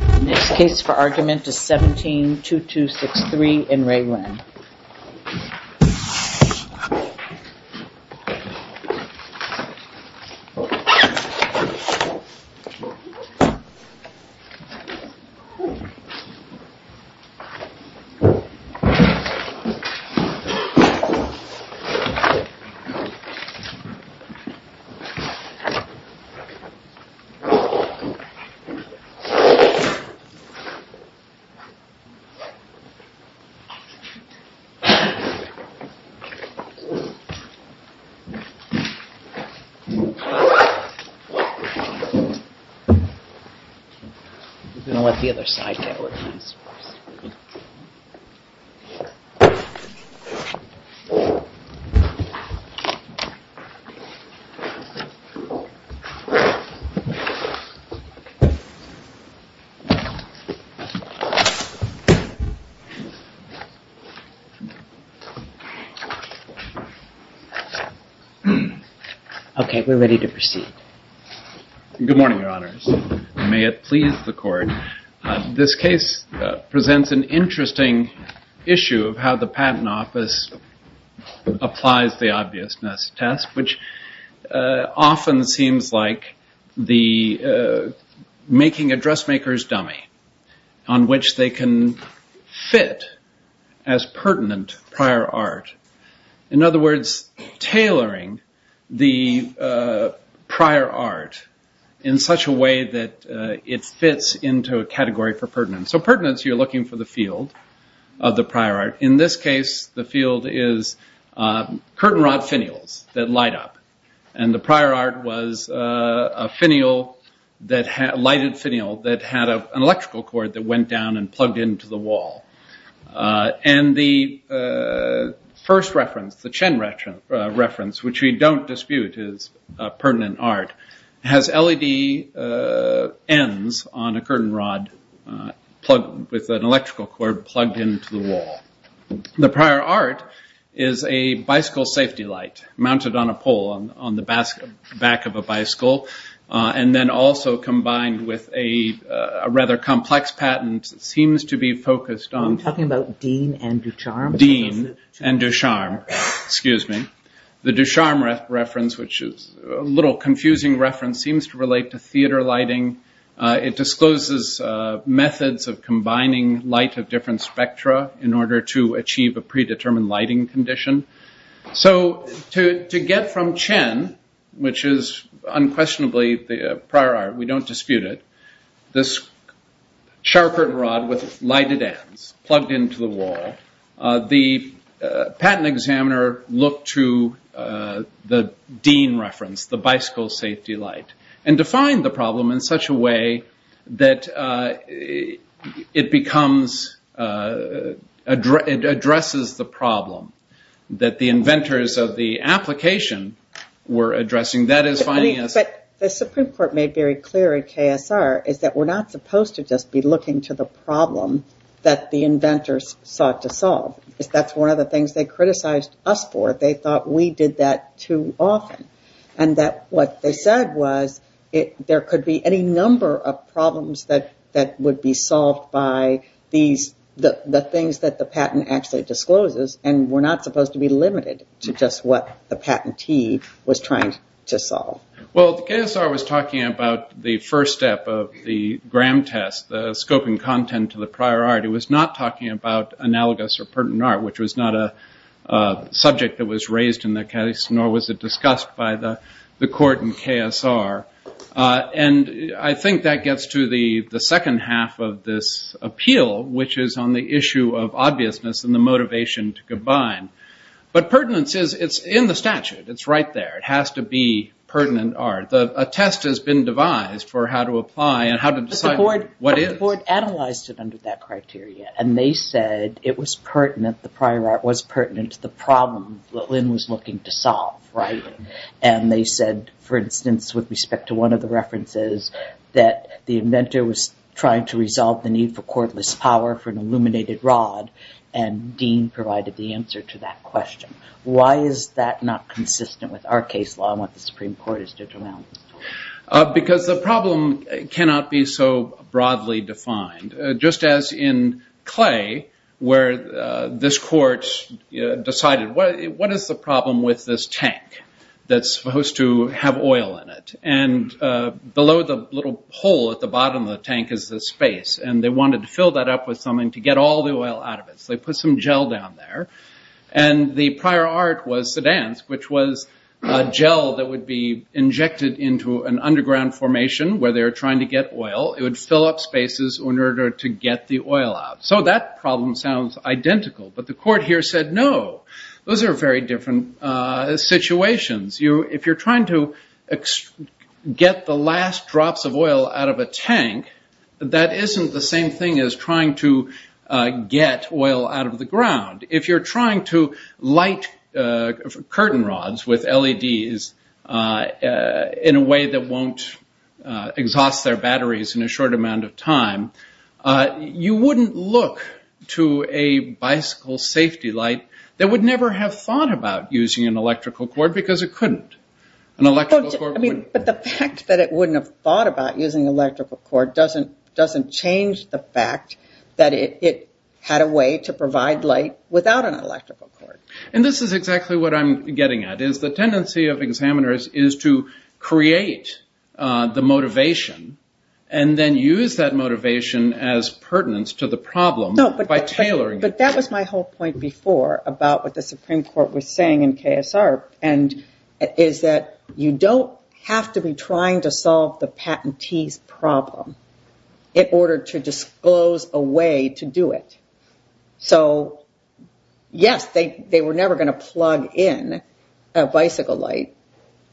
The next case for argument is 17-2263 in Re Lin He's going to let the other side get it with a nice force Okay, we're ready to proceed Good morning, your honors. May it please the court. This case presents an interesting issue of how the patent office applies the making a dressmaker's dummy on which they can fit as pertinent prior art. In other words, tailoring the prior art in such a way that it fits into a category for pertinent. So pertinence, you're looking for the field of the prior art. In this case, the field is curtain rod finials that light up. And the prior art was a lighted finial that had an electrical cord that went down and plugged into the wall. And the first reference, the Chen reference, which we don't dispute is pertinent art, has LED ends on a curtain rod with an electrical cord plugged into the wall. The back of a bicycle. And then also combined with a rather complex patent seems to be focused on I'm talking about Dean and Ducharme. Dean and Ducharme, excuse me. The Ducharme reference, which is a little confusing reference, seems to relate to theater lighting. It discloses methods of combining light of different spectra in order to achieve a predetermined lighting condition. So to get from Chen, which is unquestionably the prior art, we don't dispute it, this sharp curtain rod with lighted ends plugged into the wall, the patent examiner looked to the Dean reference, the bicycle safety light, and defined the the problem that the inventors of the application were addressing. The Supreme Court made very clear at KSR is that we're not supposed to just be looking to the problem that the inventors sought to solve. That's one of the things they criticized us for. They thought we did that too often. And that what they said was there could be any number of problems that would be solved by the things that the patent actually discloses and we're not supposed to be limited to just what the patentee was trying to solve. Well, KSR was talking about the first step of the gram test, the scoping content to the prior art. It was not talking about analogous or pertinent art, which was not a subject that was raised in the case, nor was it discussed by the court in KSR. And I think that gets to the second half of this appeal, which is on the issue of obviousness and the motivation to combine. But pertinence is in the statute. It's right there. It has to be pertinent art. A test has been devised for how to apply and how to decide what is. But the court analyzed it under that criteria and they said it was pertinent, the prior art was pertinent to the problem that Lynn was looking to solve, right? And they said, for instance, with respect to one of the references, that the inventor was trying to resolve the need for cordless power for an illuminated rod and Dean provided the answer to that question. Why is that not pertinent? Because the problem cannot be so broadly defined. Just as in clay, where this court decided, what is the problem with this tank that's supposed to have oil in it? And below the little hole at the bottom of the tank is the space and they wanted to fill that up with something to get all the oil out of it. So they put some gel down there and the prior art was sedans, which was a gel that would be injected into an underground formation where they were trying to get oil. It would fill up spaces in order to get the oil out. So that problem sounds identical. But the court here said no. Those are very different situations. If you're trying to get the last drops of oil out of a tank, that isn't the same thing as trying to get oil out of the ground. If you're trying to light curtain rods with LEDs in a way that won't exhaust their batteries in a short amount of time, you wouldn't look to a bicycle safety light that would never have thought about using an electrical cord because it couldn't. But the fact that it wouldn't have thought about using an electrical cord doesn't change the fact that it had a way to provide light without an electrical cord. And this is exactly what I'm getting at. The tendency of examiners is to create the motivation and then use that motivation as pertinent to the problem by tailoring it. But that was my whole point before about what the Supreme Court was saying in KSR is that you don't have to be trying to solve the problem in a bicycle light,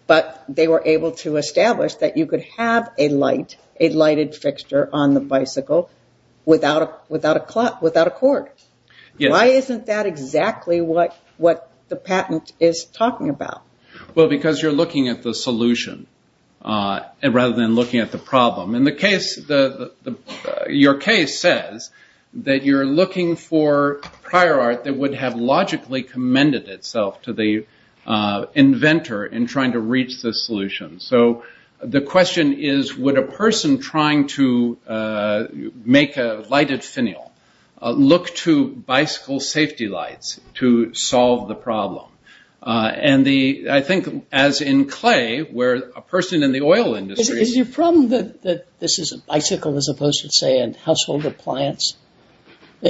but they were able to establish that you could have a lighted fixture on the bicycle without a cord. Why isn't that exactly what the patent is talking about? Well, because you're looking at the solution rather than looking at the problem. And your case says that you're looking for prior art that would have logically commended itself to the inventor in trying to reach the solution. So the question is, would a person trying to make a lighted finial look to bicycle safety lights to solve the problem? And I think as in clay, where a person in the oil industry... Is your problem that this is a bicycle as opposed to, say, a household appliance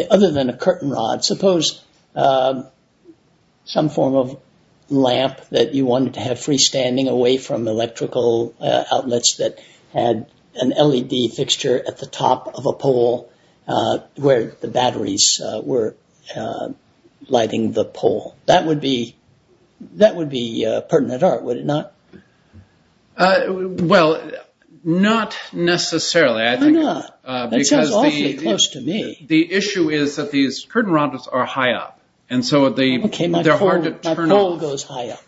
other than a curtain rod? Suppose some form of lamp that you wanted to have freestanding away from electrical outlets that had an LED fixture at the top of a pole where the batteries were lighting the pole. That would be Well, not necessarily. Why not? That sounds awfully close to me. The issue is that these curtain rods are high up. And so they're hard to turn off. My pole goes high up.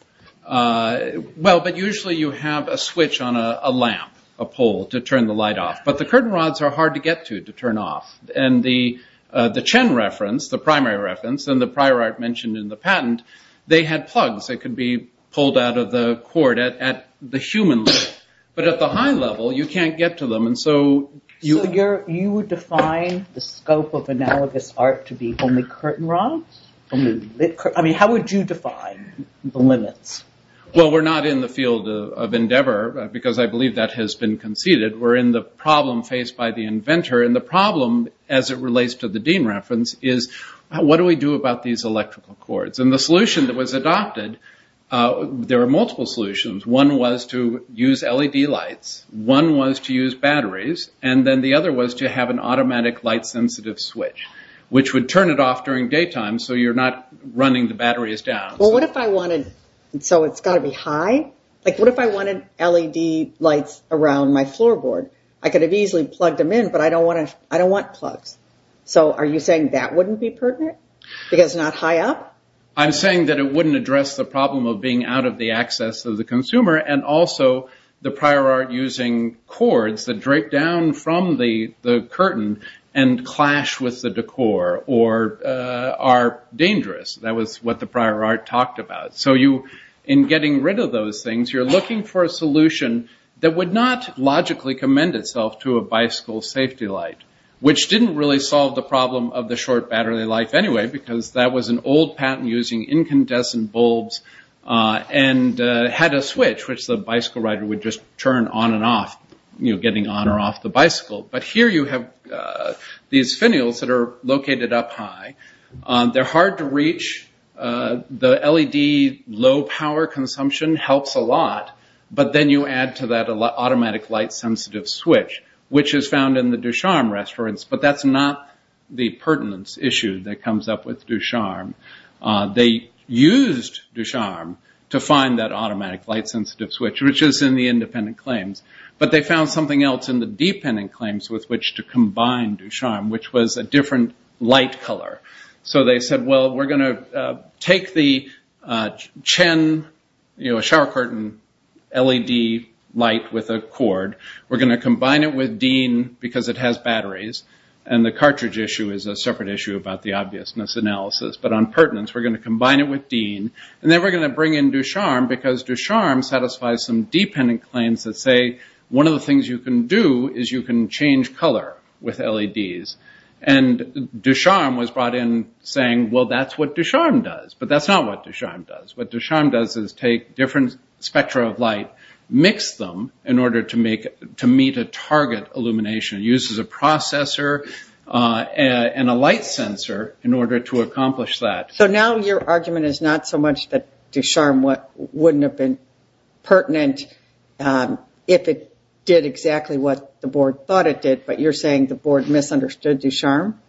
Well, but usually you have a switch on a lamp, a pole, to turn the light off. But the curtain rods are hard to get to, to turn off. And the So you would define the scope of analogous art to be only curtain rods? I mean, how would you define the limits? Well, we're not in the field of endeavor, because I believe that has been conceded. We're in the problem faced by the inventor. And the problem, as it relates to the One was to use batteries. And then the other was to have an automatic light-sensitive switch, which would turn it off during daytime so you're not running the batteries down. Well, what if I wanted... So it's got to be high? Like, what if I wanted LED lights around my floorboard? I could have easily plugged them in, but I don't want plugs. So are you saying that wouldn't be pertinent? Because not high up? I'm saying that it wouldn't address the problem of being out of the access of the consumer and also the prior art using cords that drape down from the curtain and clash with the decor or are dangerous. That was what the prior art talked about. So you, in getting rid of those things, you're looking for a solution that would not logically commend itself to a bicycle safety light, which didn't really solve the problem of the short battery life anyway, because that was an old patent using incandescent bulbs and had a switch which the bicycle rider would just turn on and off, getting on or off the bicycle. But here you have these finials that are located up high. They're hard to reach. The LED low power consumption helps a lot. But then you add to that an automatic light sensitive switch, which is found in the Ducharme restaurants, but that's not the pertinence issue that comes up with Ducharme. They used Ducharme to find that automatic light sensitive switch, which is in the independent claims, but they found something else in the dependent claims with which to combine Ducharme, which was a different light color. So they said, well, we're going to take the Chen shower curtain LED light with a cord. We're going to combine it with Dean because it has batteries and the cartridge issue is a separate issue about the obviousness analysis. But on pertinence, we're going to combine it with Dean and then we're going to bring in Ducharme because Ducharme satisfies some dependent claims that say, one of the things you can do is you can change color with LEDs. And Ducharme was brought in saying, well, that's what Ducharme does. But that's not what Ducharme does. What Ducharme does is take different spectra of light, mix them in order to meet a target illumination. It uses a processor and a light sensor in order to accomplish that. So now your argument is not so much that Ducharme wouldn't have been pertinent if it did exactly what the board thought it did, but you're saying the board misunderstood Ducharme?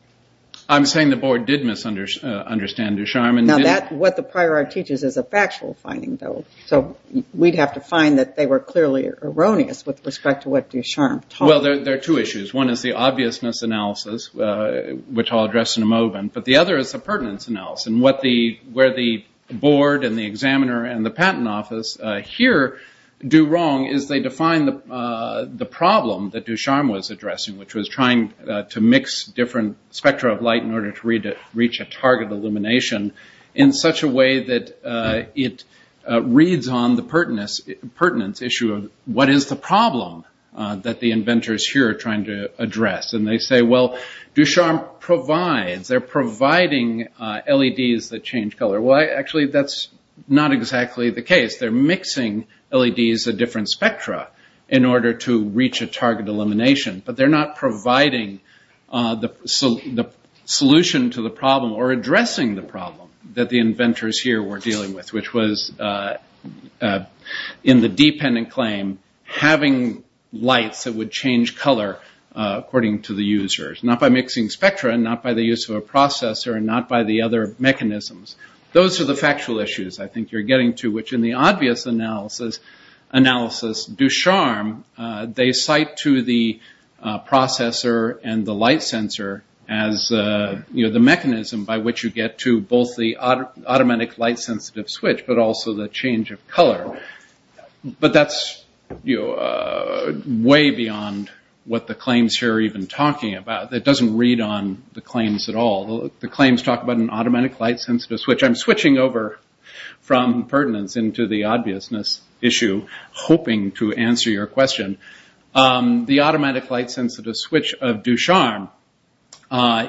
I'm saying the board did misunderstand Ducharme. Now, what the prior art teaches is a factual finding, though. So we'd have to find that they were clearly erroneous with respect to what Ducharme taught. Well, there are two issues. One is the obviousness analysis, which I'll address in a moment. But the other is the pertinence analysis, where the board and the examiner and the patent office here do wrong is they define the problem that Ducharme was addressing, which was trying to mix different spectra of light in order to reach a target illumination in such a way that it reads on the pertinence issue of what is the problem that the inventors here are trying to address. And they say, well, Ducharme provides. They're providing LEDs that change color. Well, actually, that's not exactly the case. They're mixing LEDs of different spectra in order to reach a target illumination, but they're not providing the solution to the problem or addressing the problem that the inventors here were dealing with, which was in the dependent claim, having lights that would change color according to the users, not by mixing spectra, not by the use of a processor, and not by the other mechanisms. Those are the factual issues I think you're getting to, which in the obvious analysis, Ducharme, they cite to the processor and the light sensor as the mechanism by which you get to both the automatic light sensitive switch, but also the change of color. But that's way beyond what the claims here are even talking about. It doesn't read on the claims at all. The claims talk about an automatic light sensitive switch. I'm switching over from pertinence into the obviousness issue, hoping to answer your question. The automatic light sensitive switch of Ducharme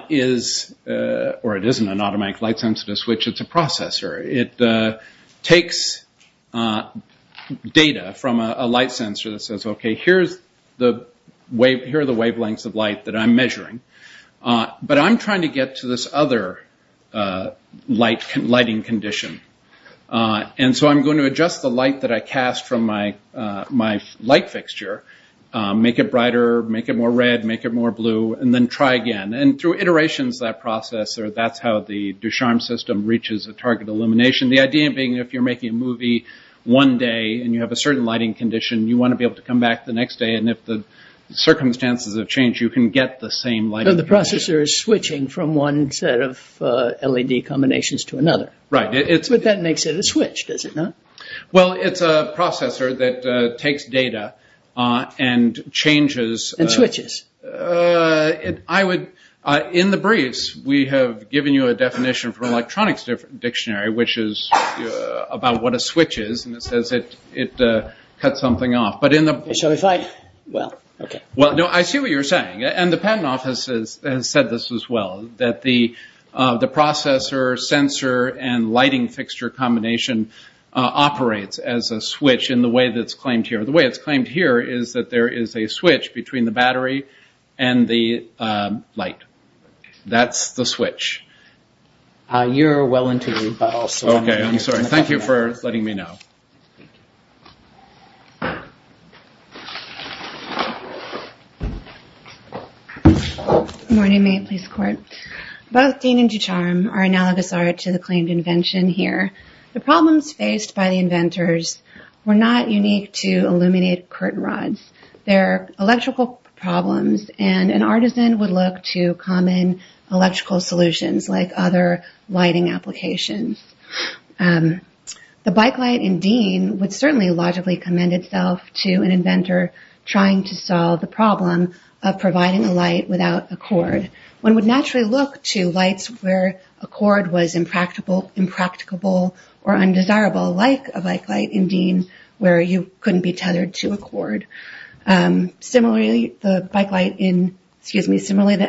is, or it isn't an automatic light sensitive switch, it's a processor. It takes data from a light sensor that says, okay, here are the wavelengths of light that I'm measuring, but I'm trying to get to this other lighting condition. I'm going to adjust the light that I cast from my light fixture, make it brighter, make it more red, make it more blue, and then try again. Through iterations of that process, that's how the Ducharme system reaches a target illumination. The idea being, if you're making a movie one day and you have a certain lighting condition, you want to be able to come back the next day and if the circumstances have changed, you can get the same lighting condition. So the processor is switching from one set of LED combinations to another? Right. But that makes it a switch, does it not? Well, it's a processor that takes data and changes... And switches. I would, in the briefs, we have given you a definition from an electronics dictionary, which is about what a switch is, and it says it cuts something off. So if I, well, okay. Well, no, I see what you're saying, and the patent office has said this as well, that the processor, sensor, and lighting fixture combination operates as a switch in the way that's claimed here. The way it's claimed here is that there is a switch between the battery and the light. That's the switch. You're well into the... Okay, I'm sorry. Thank you for letting me know. Good morning, Maine Police Court. Both Dean and Jucharam are analogous to the claimed invention here. The problems faced by the inventors were not unique to illuminated curtain rods. They're electrical problems, and an artisan would look to common electrical solutions like other lighting applications. The bike light in Dean would certainly logically commend itself to an inventor trying to solve the problem of providing a light without a cord. One would naturally look to lights where a cord was impracticable or undesirable, like a bike light in Dean where you couldn't be tethered to a cord. Similarly, the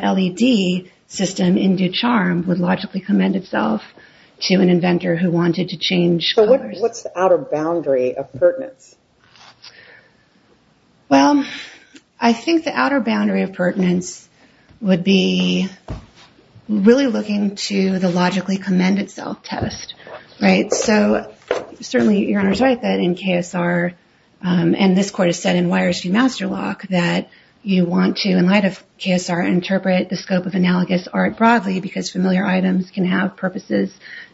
LED system in Jucharam would logically commend itself to an inventor who wanted to change colors. What's the outer boundary of pertinence? Well, I think the outer boundary of pertinence would be really looking to the logically commend itself test. Certainly, your Honor is right that in KSR, and this court has said in Wyers v. Masterlock, that you want to, in light of KSR, interpret the scope of analogous art broadly because familiar items can have purposes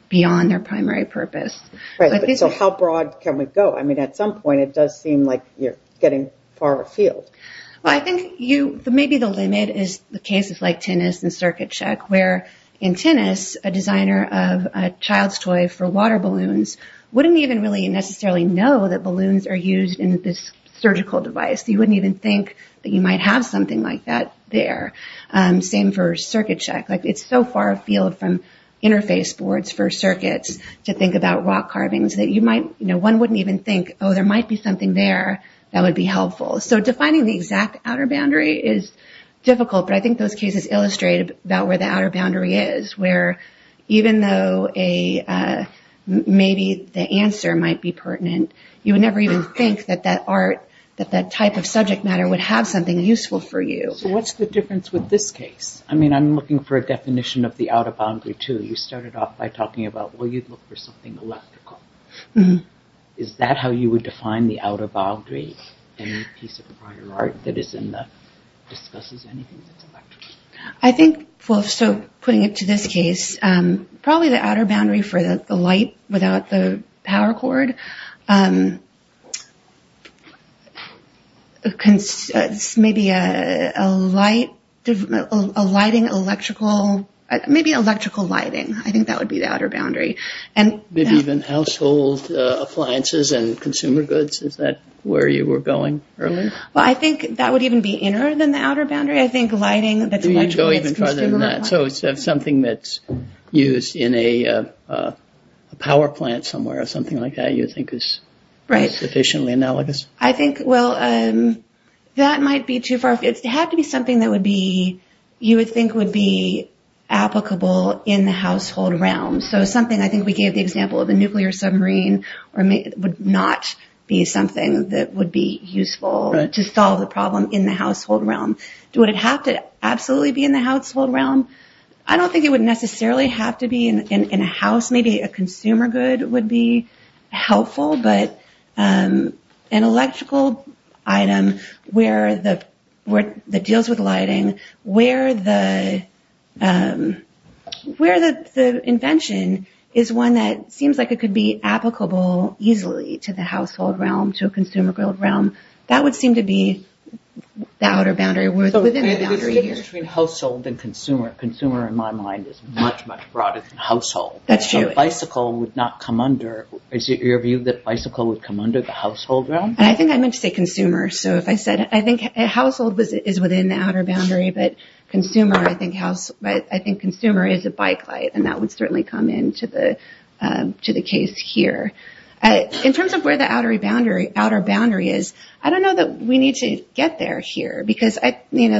beyond their primary purpose. How broad can we go? At some point, it does seem like you're getting far afield. Well, I think maybe the limit is the cases like tennis and circuit check, where in tennis, a designer of a child's toy for water balloons wouldn't even really necessarily know that balloons are used in this surgical device. You wouldn't even think that you might have something like that there. Same for circuit check. It's so far afield from interface boards for circuits to think about rock carvings that one wouldn't even think, oh, there might be something there that would be helpful. So defining the exact outer boundary is difficult, but I think those cases illustrate about where the outer boundary is, where even though maybe the answer might be pertinent, you would never even think that that art, that that type of subject matter would have something useful for you. So what's the difference with this case? I mean, I'm looking for a definition of the outer boundary, too. You started off by talking about, well, you'd look for something electrical. Is that how you would define the outer boundary in a piece of prior art that discusses anything that's electrical? I think, well, so putting it to this case, probably the outer boundary for the light without the power cord, maybe electrical lighting, I think that would be the outer boundary. Maybe even household appliances and consumer goods, is that where you were going earlier? Well, I think that would even be inner than the outer boundary. I think lighting that's much more... Do you go even farther than that? So it's something that's used in a power plant somewhere or something like that you think is sufficiently analogous? I think, well, that might be too far afield. It would have to be something that you would think would be applicable in the household realm. So something, I think we gave the example of a nuclear submarine would not be something that would be useful to solve the problem in the household realm. Would it have to absolutely be in the household realm? I don't think it would necessarily have to be in a house. Maybe a consumer good would be helpful, but an electrical item that deals with lighting, where the invention is one that seems like it could be applicable easily to the household realm, to a consumer realm, that would seem to be the outer boundary. Between household and consumer, consumer in my mind is much, much broader than household. That's true. Bicycle would not come under... Is it your view that bicycle would come under the household realm? I think I meant to say consumer. So if I said, I think household is within the outer boundary, but consumer, I think consumer is a bike light, and that would certainly come into the case here. In terms of where the outer boundary is, I don't know that we need to get there here, because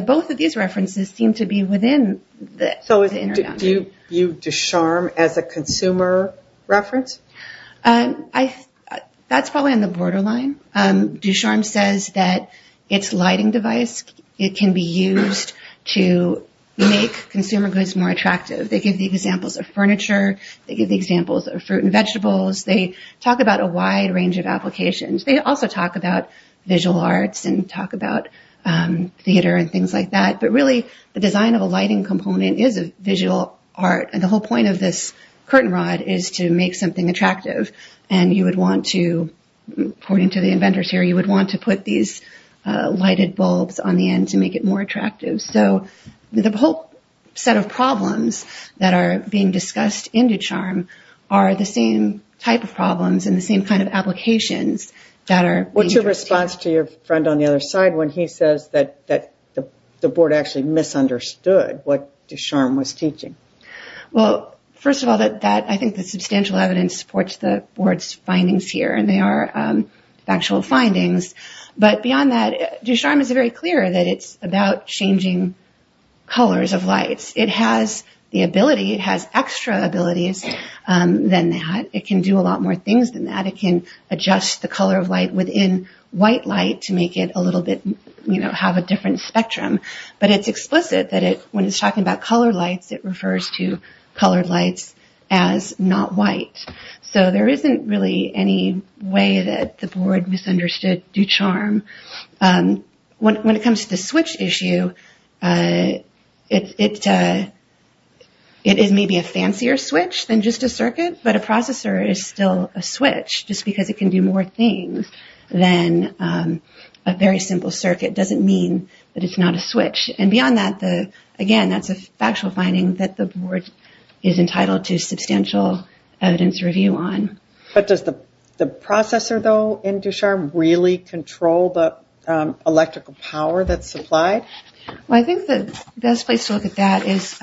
both of these references seem to be within the inner boundary. Do you view Ducharme as a consumer reference? That's probably on the borderline. Ducharme says that its lighting device, it can be used to make consumer goods more attractive. They give the examples of furniture. They give the examples of fruit and vegetables. They talk about a wide range of applications. They also talk about visual arts and talk about theater and things like that. But really, the design of a lighting component is a visual art, and the whole point of this curtain rod is to make something attractive. And you would want to, according to the inventors here, you would want to put these lighted bulbs on the end to make it more attractive. So the whole set of problems that are being discussed in Ducharme are the same type of problems and the same kind of applications. What's your response to your friend on the other side when he says that the board actually misunderstood what Ducharme was teaching? Well, first of all, I think the substantial evidence supports the board's findings here, and they are factual findings. But beyond that, Ducharme is very clear that it's about changing colors of lights. It has the ability, it has extra abilities than that. It can do a lot more things than that. It can adjust the color of light within white light to make it a little bit, you know, have a different spectrum. But it's explicit that when it's talking about colored lights, it refers to colored lights as not white. So there isn't really any way that the board misunderstood Ducharme. When it comes to the switch issue, it is maybe a fancier switch than just a circuit. But a processor is still a switch just because it can do more things than a very simple circuit doesn't mean that it's not a switch. And beyond that, again, that's a factual finding that the board is entitled to substantial evidence review on. But does the processor, though, in Ducharme really control the electrical power that's supplied? Well, I think the best place to look at that is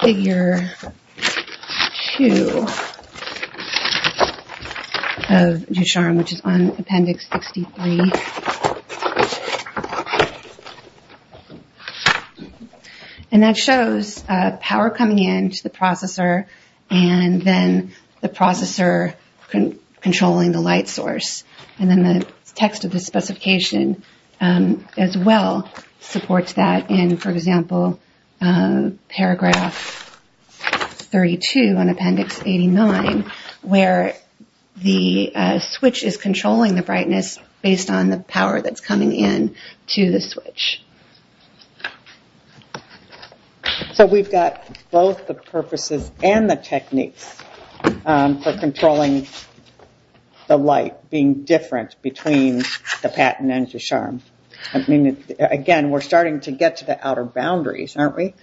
Figure 2 of Ducharme, which is on Appendix 63. And that shows power coming into the processor and then the processor controlling the light source. And then the text of the specification as well supports that in, for example, Paragraph 32 on Appendix 89, where the switch is controlling the brightness based on the power that's coming in to the switch. So we've got both the purposes and the techniques for controlling the light being different between the patent and Ducharme. I mean, again, we're starting to get to the outer boundaries, aren't we?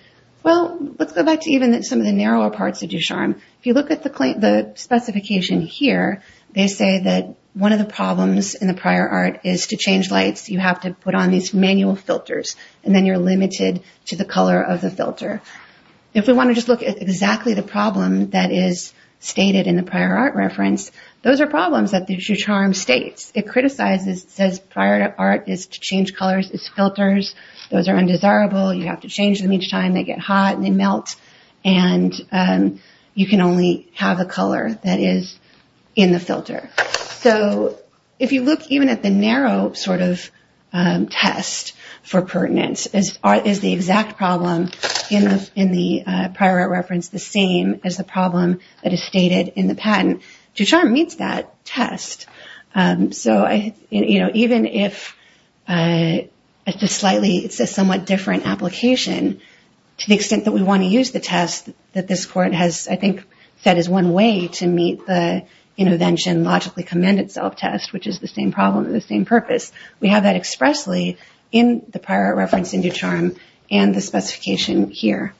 Well, let's go back to even some of the narrower parts of Ducharme. If you look at the specification here, they say that one of the problems in the prior art is to change lights, you have to put on these manual filters, and then you're limited to the color of the filter. If we want to just look at exactly the problem that is stated in the prior art reference, those are problems that Ducharme states. It criticizes, it says prior art is to change colors, it's filters, those are undesirable, you have to change them each time they get hot and they melt, and you can only have a color that is in the filter. So if you look even at the narrow sort of test for pertinence, is the exact problem in the prior art reference the same as the problem that is stated in the patent? Ducharme meets that test. So even if it's a somewhat different application, to the extent that we want to use the test that this court has, I think that is one way to meet the intervention logically commended self-test, which is the same problem with the same purpose. We have that expressly in the prior art reference in Ducharme and the specification here.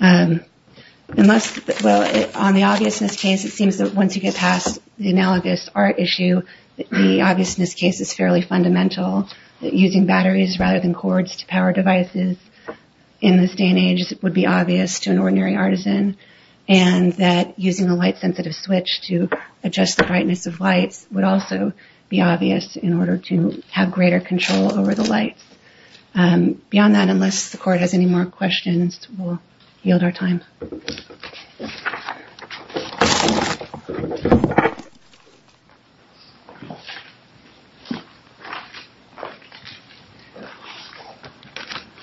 On the obviousness case, it seems that once you get past the analogous art issue, the obviousness case is fairly fundamental, that using batteries rather than cords to power devices in this day and age would be obvious to an ordinary artisan, and that using a light-sensitive switch to adjust the brightness of lights would also be obvious in order to have greater control over the lights. Beyond that, unless the court has any more questions, we'll yield our time.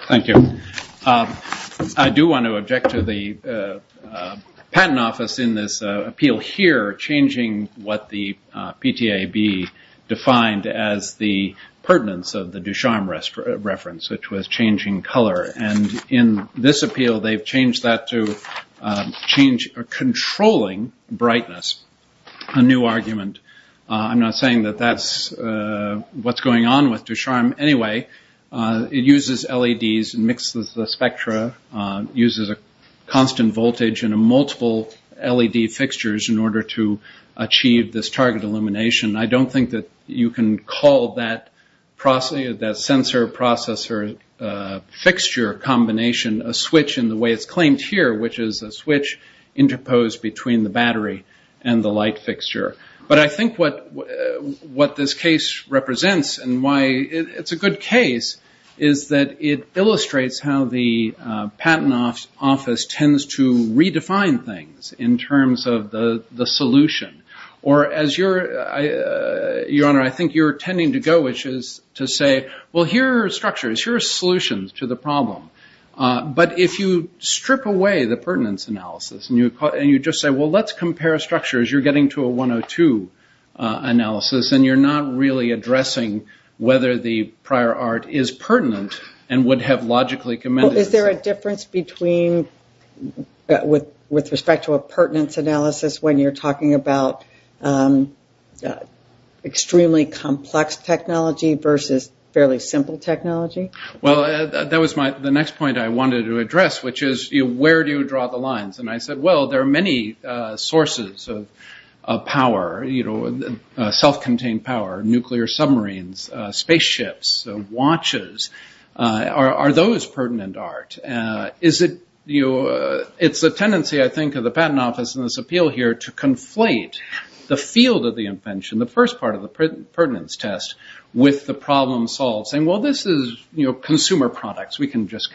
Thank you. I do want to object to the patent office in this appeal here, changing what the PTAB defined as the pertinence of the Ducharme reference, which was changing color. In this appeal, they've changed that to controlling brightness, a new argument. I'm not saying that that's what's going on with Ducharme anyway. It uses LEDs, mixes the spectra, uses a constant voltage and multiple LED fixtures in order to achieve this target illumination. I don't think that you can call that sensor-processor fixture combination a switch in the way it's claimed here, which is a switch interposed between the battery and the light fixture. But I think what this case represents, and why it's a good case, is that it illustrates how the patent office tends to redefine things in terms of the solution. Your Honor, I think you're tending to go, which is to say, well, here are structures, here are solutions to the problem. But if you strip away the pertinence analysis and you just say, well, let's compare structures, you're getting to a 102 analysis and you're not really addressing whether the prior art is pertinent and would have logically commended it. Is there a difference between, with respect to a pertinence analysis, when you're talking about extremely complex technology versus fairly simple technology? Well, that was the next point I wanted to address, which is, where do you draw the lines? And I said, well, there are many sources of power, self-contained power, nuclear submarines, spaceships, watches. Are those pertinent art? It's a tendency, I think, of the patent office in this appeal here to conflate the field of the invention, the first part of the pertinence test, with the problem-solving. Well, this is consumer products. We can just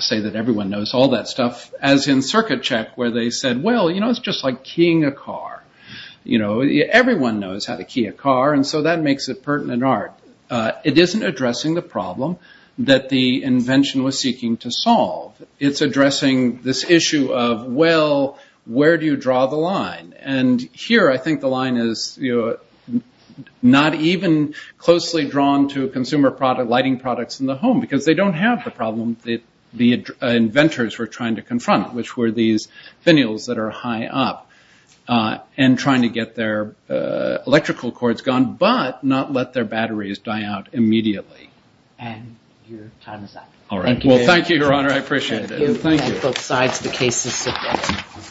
say that everyone knows all that stuff, as in circuit check, where they said, well, it's just like keying a car. Everyone knows how to key a car, and so that makes it pertinent art. It isn't addressing the problem that the invention was seeking to solve. It's addressing this issue of, well, where do you draw the line? And here I think the line is not even closely drawn to consumer lighting products in the home, because they don't have the problem that the inventors were trying to confront, which were these finials that are high up and trying to get their electrical cords gone, but not let their batteries die out immediately. And your time is up. All right. Well, thank you, Your Honor. I appreciate it. Thank you. Thank you. The case is submitted.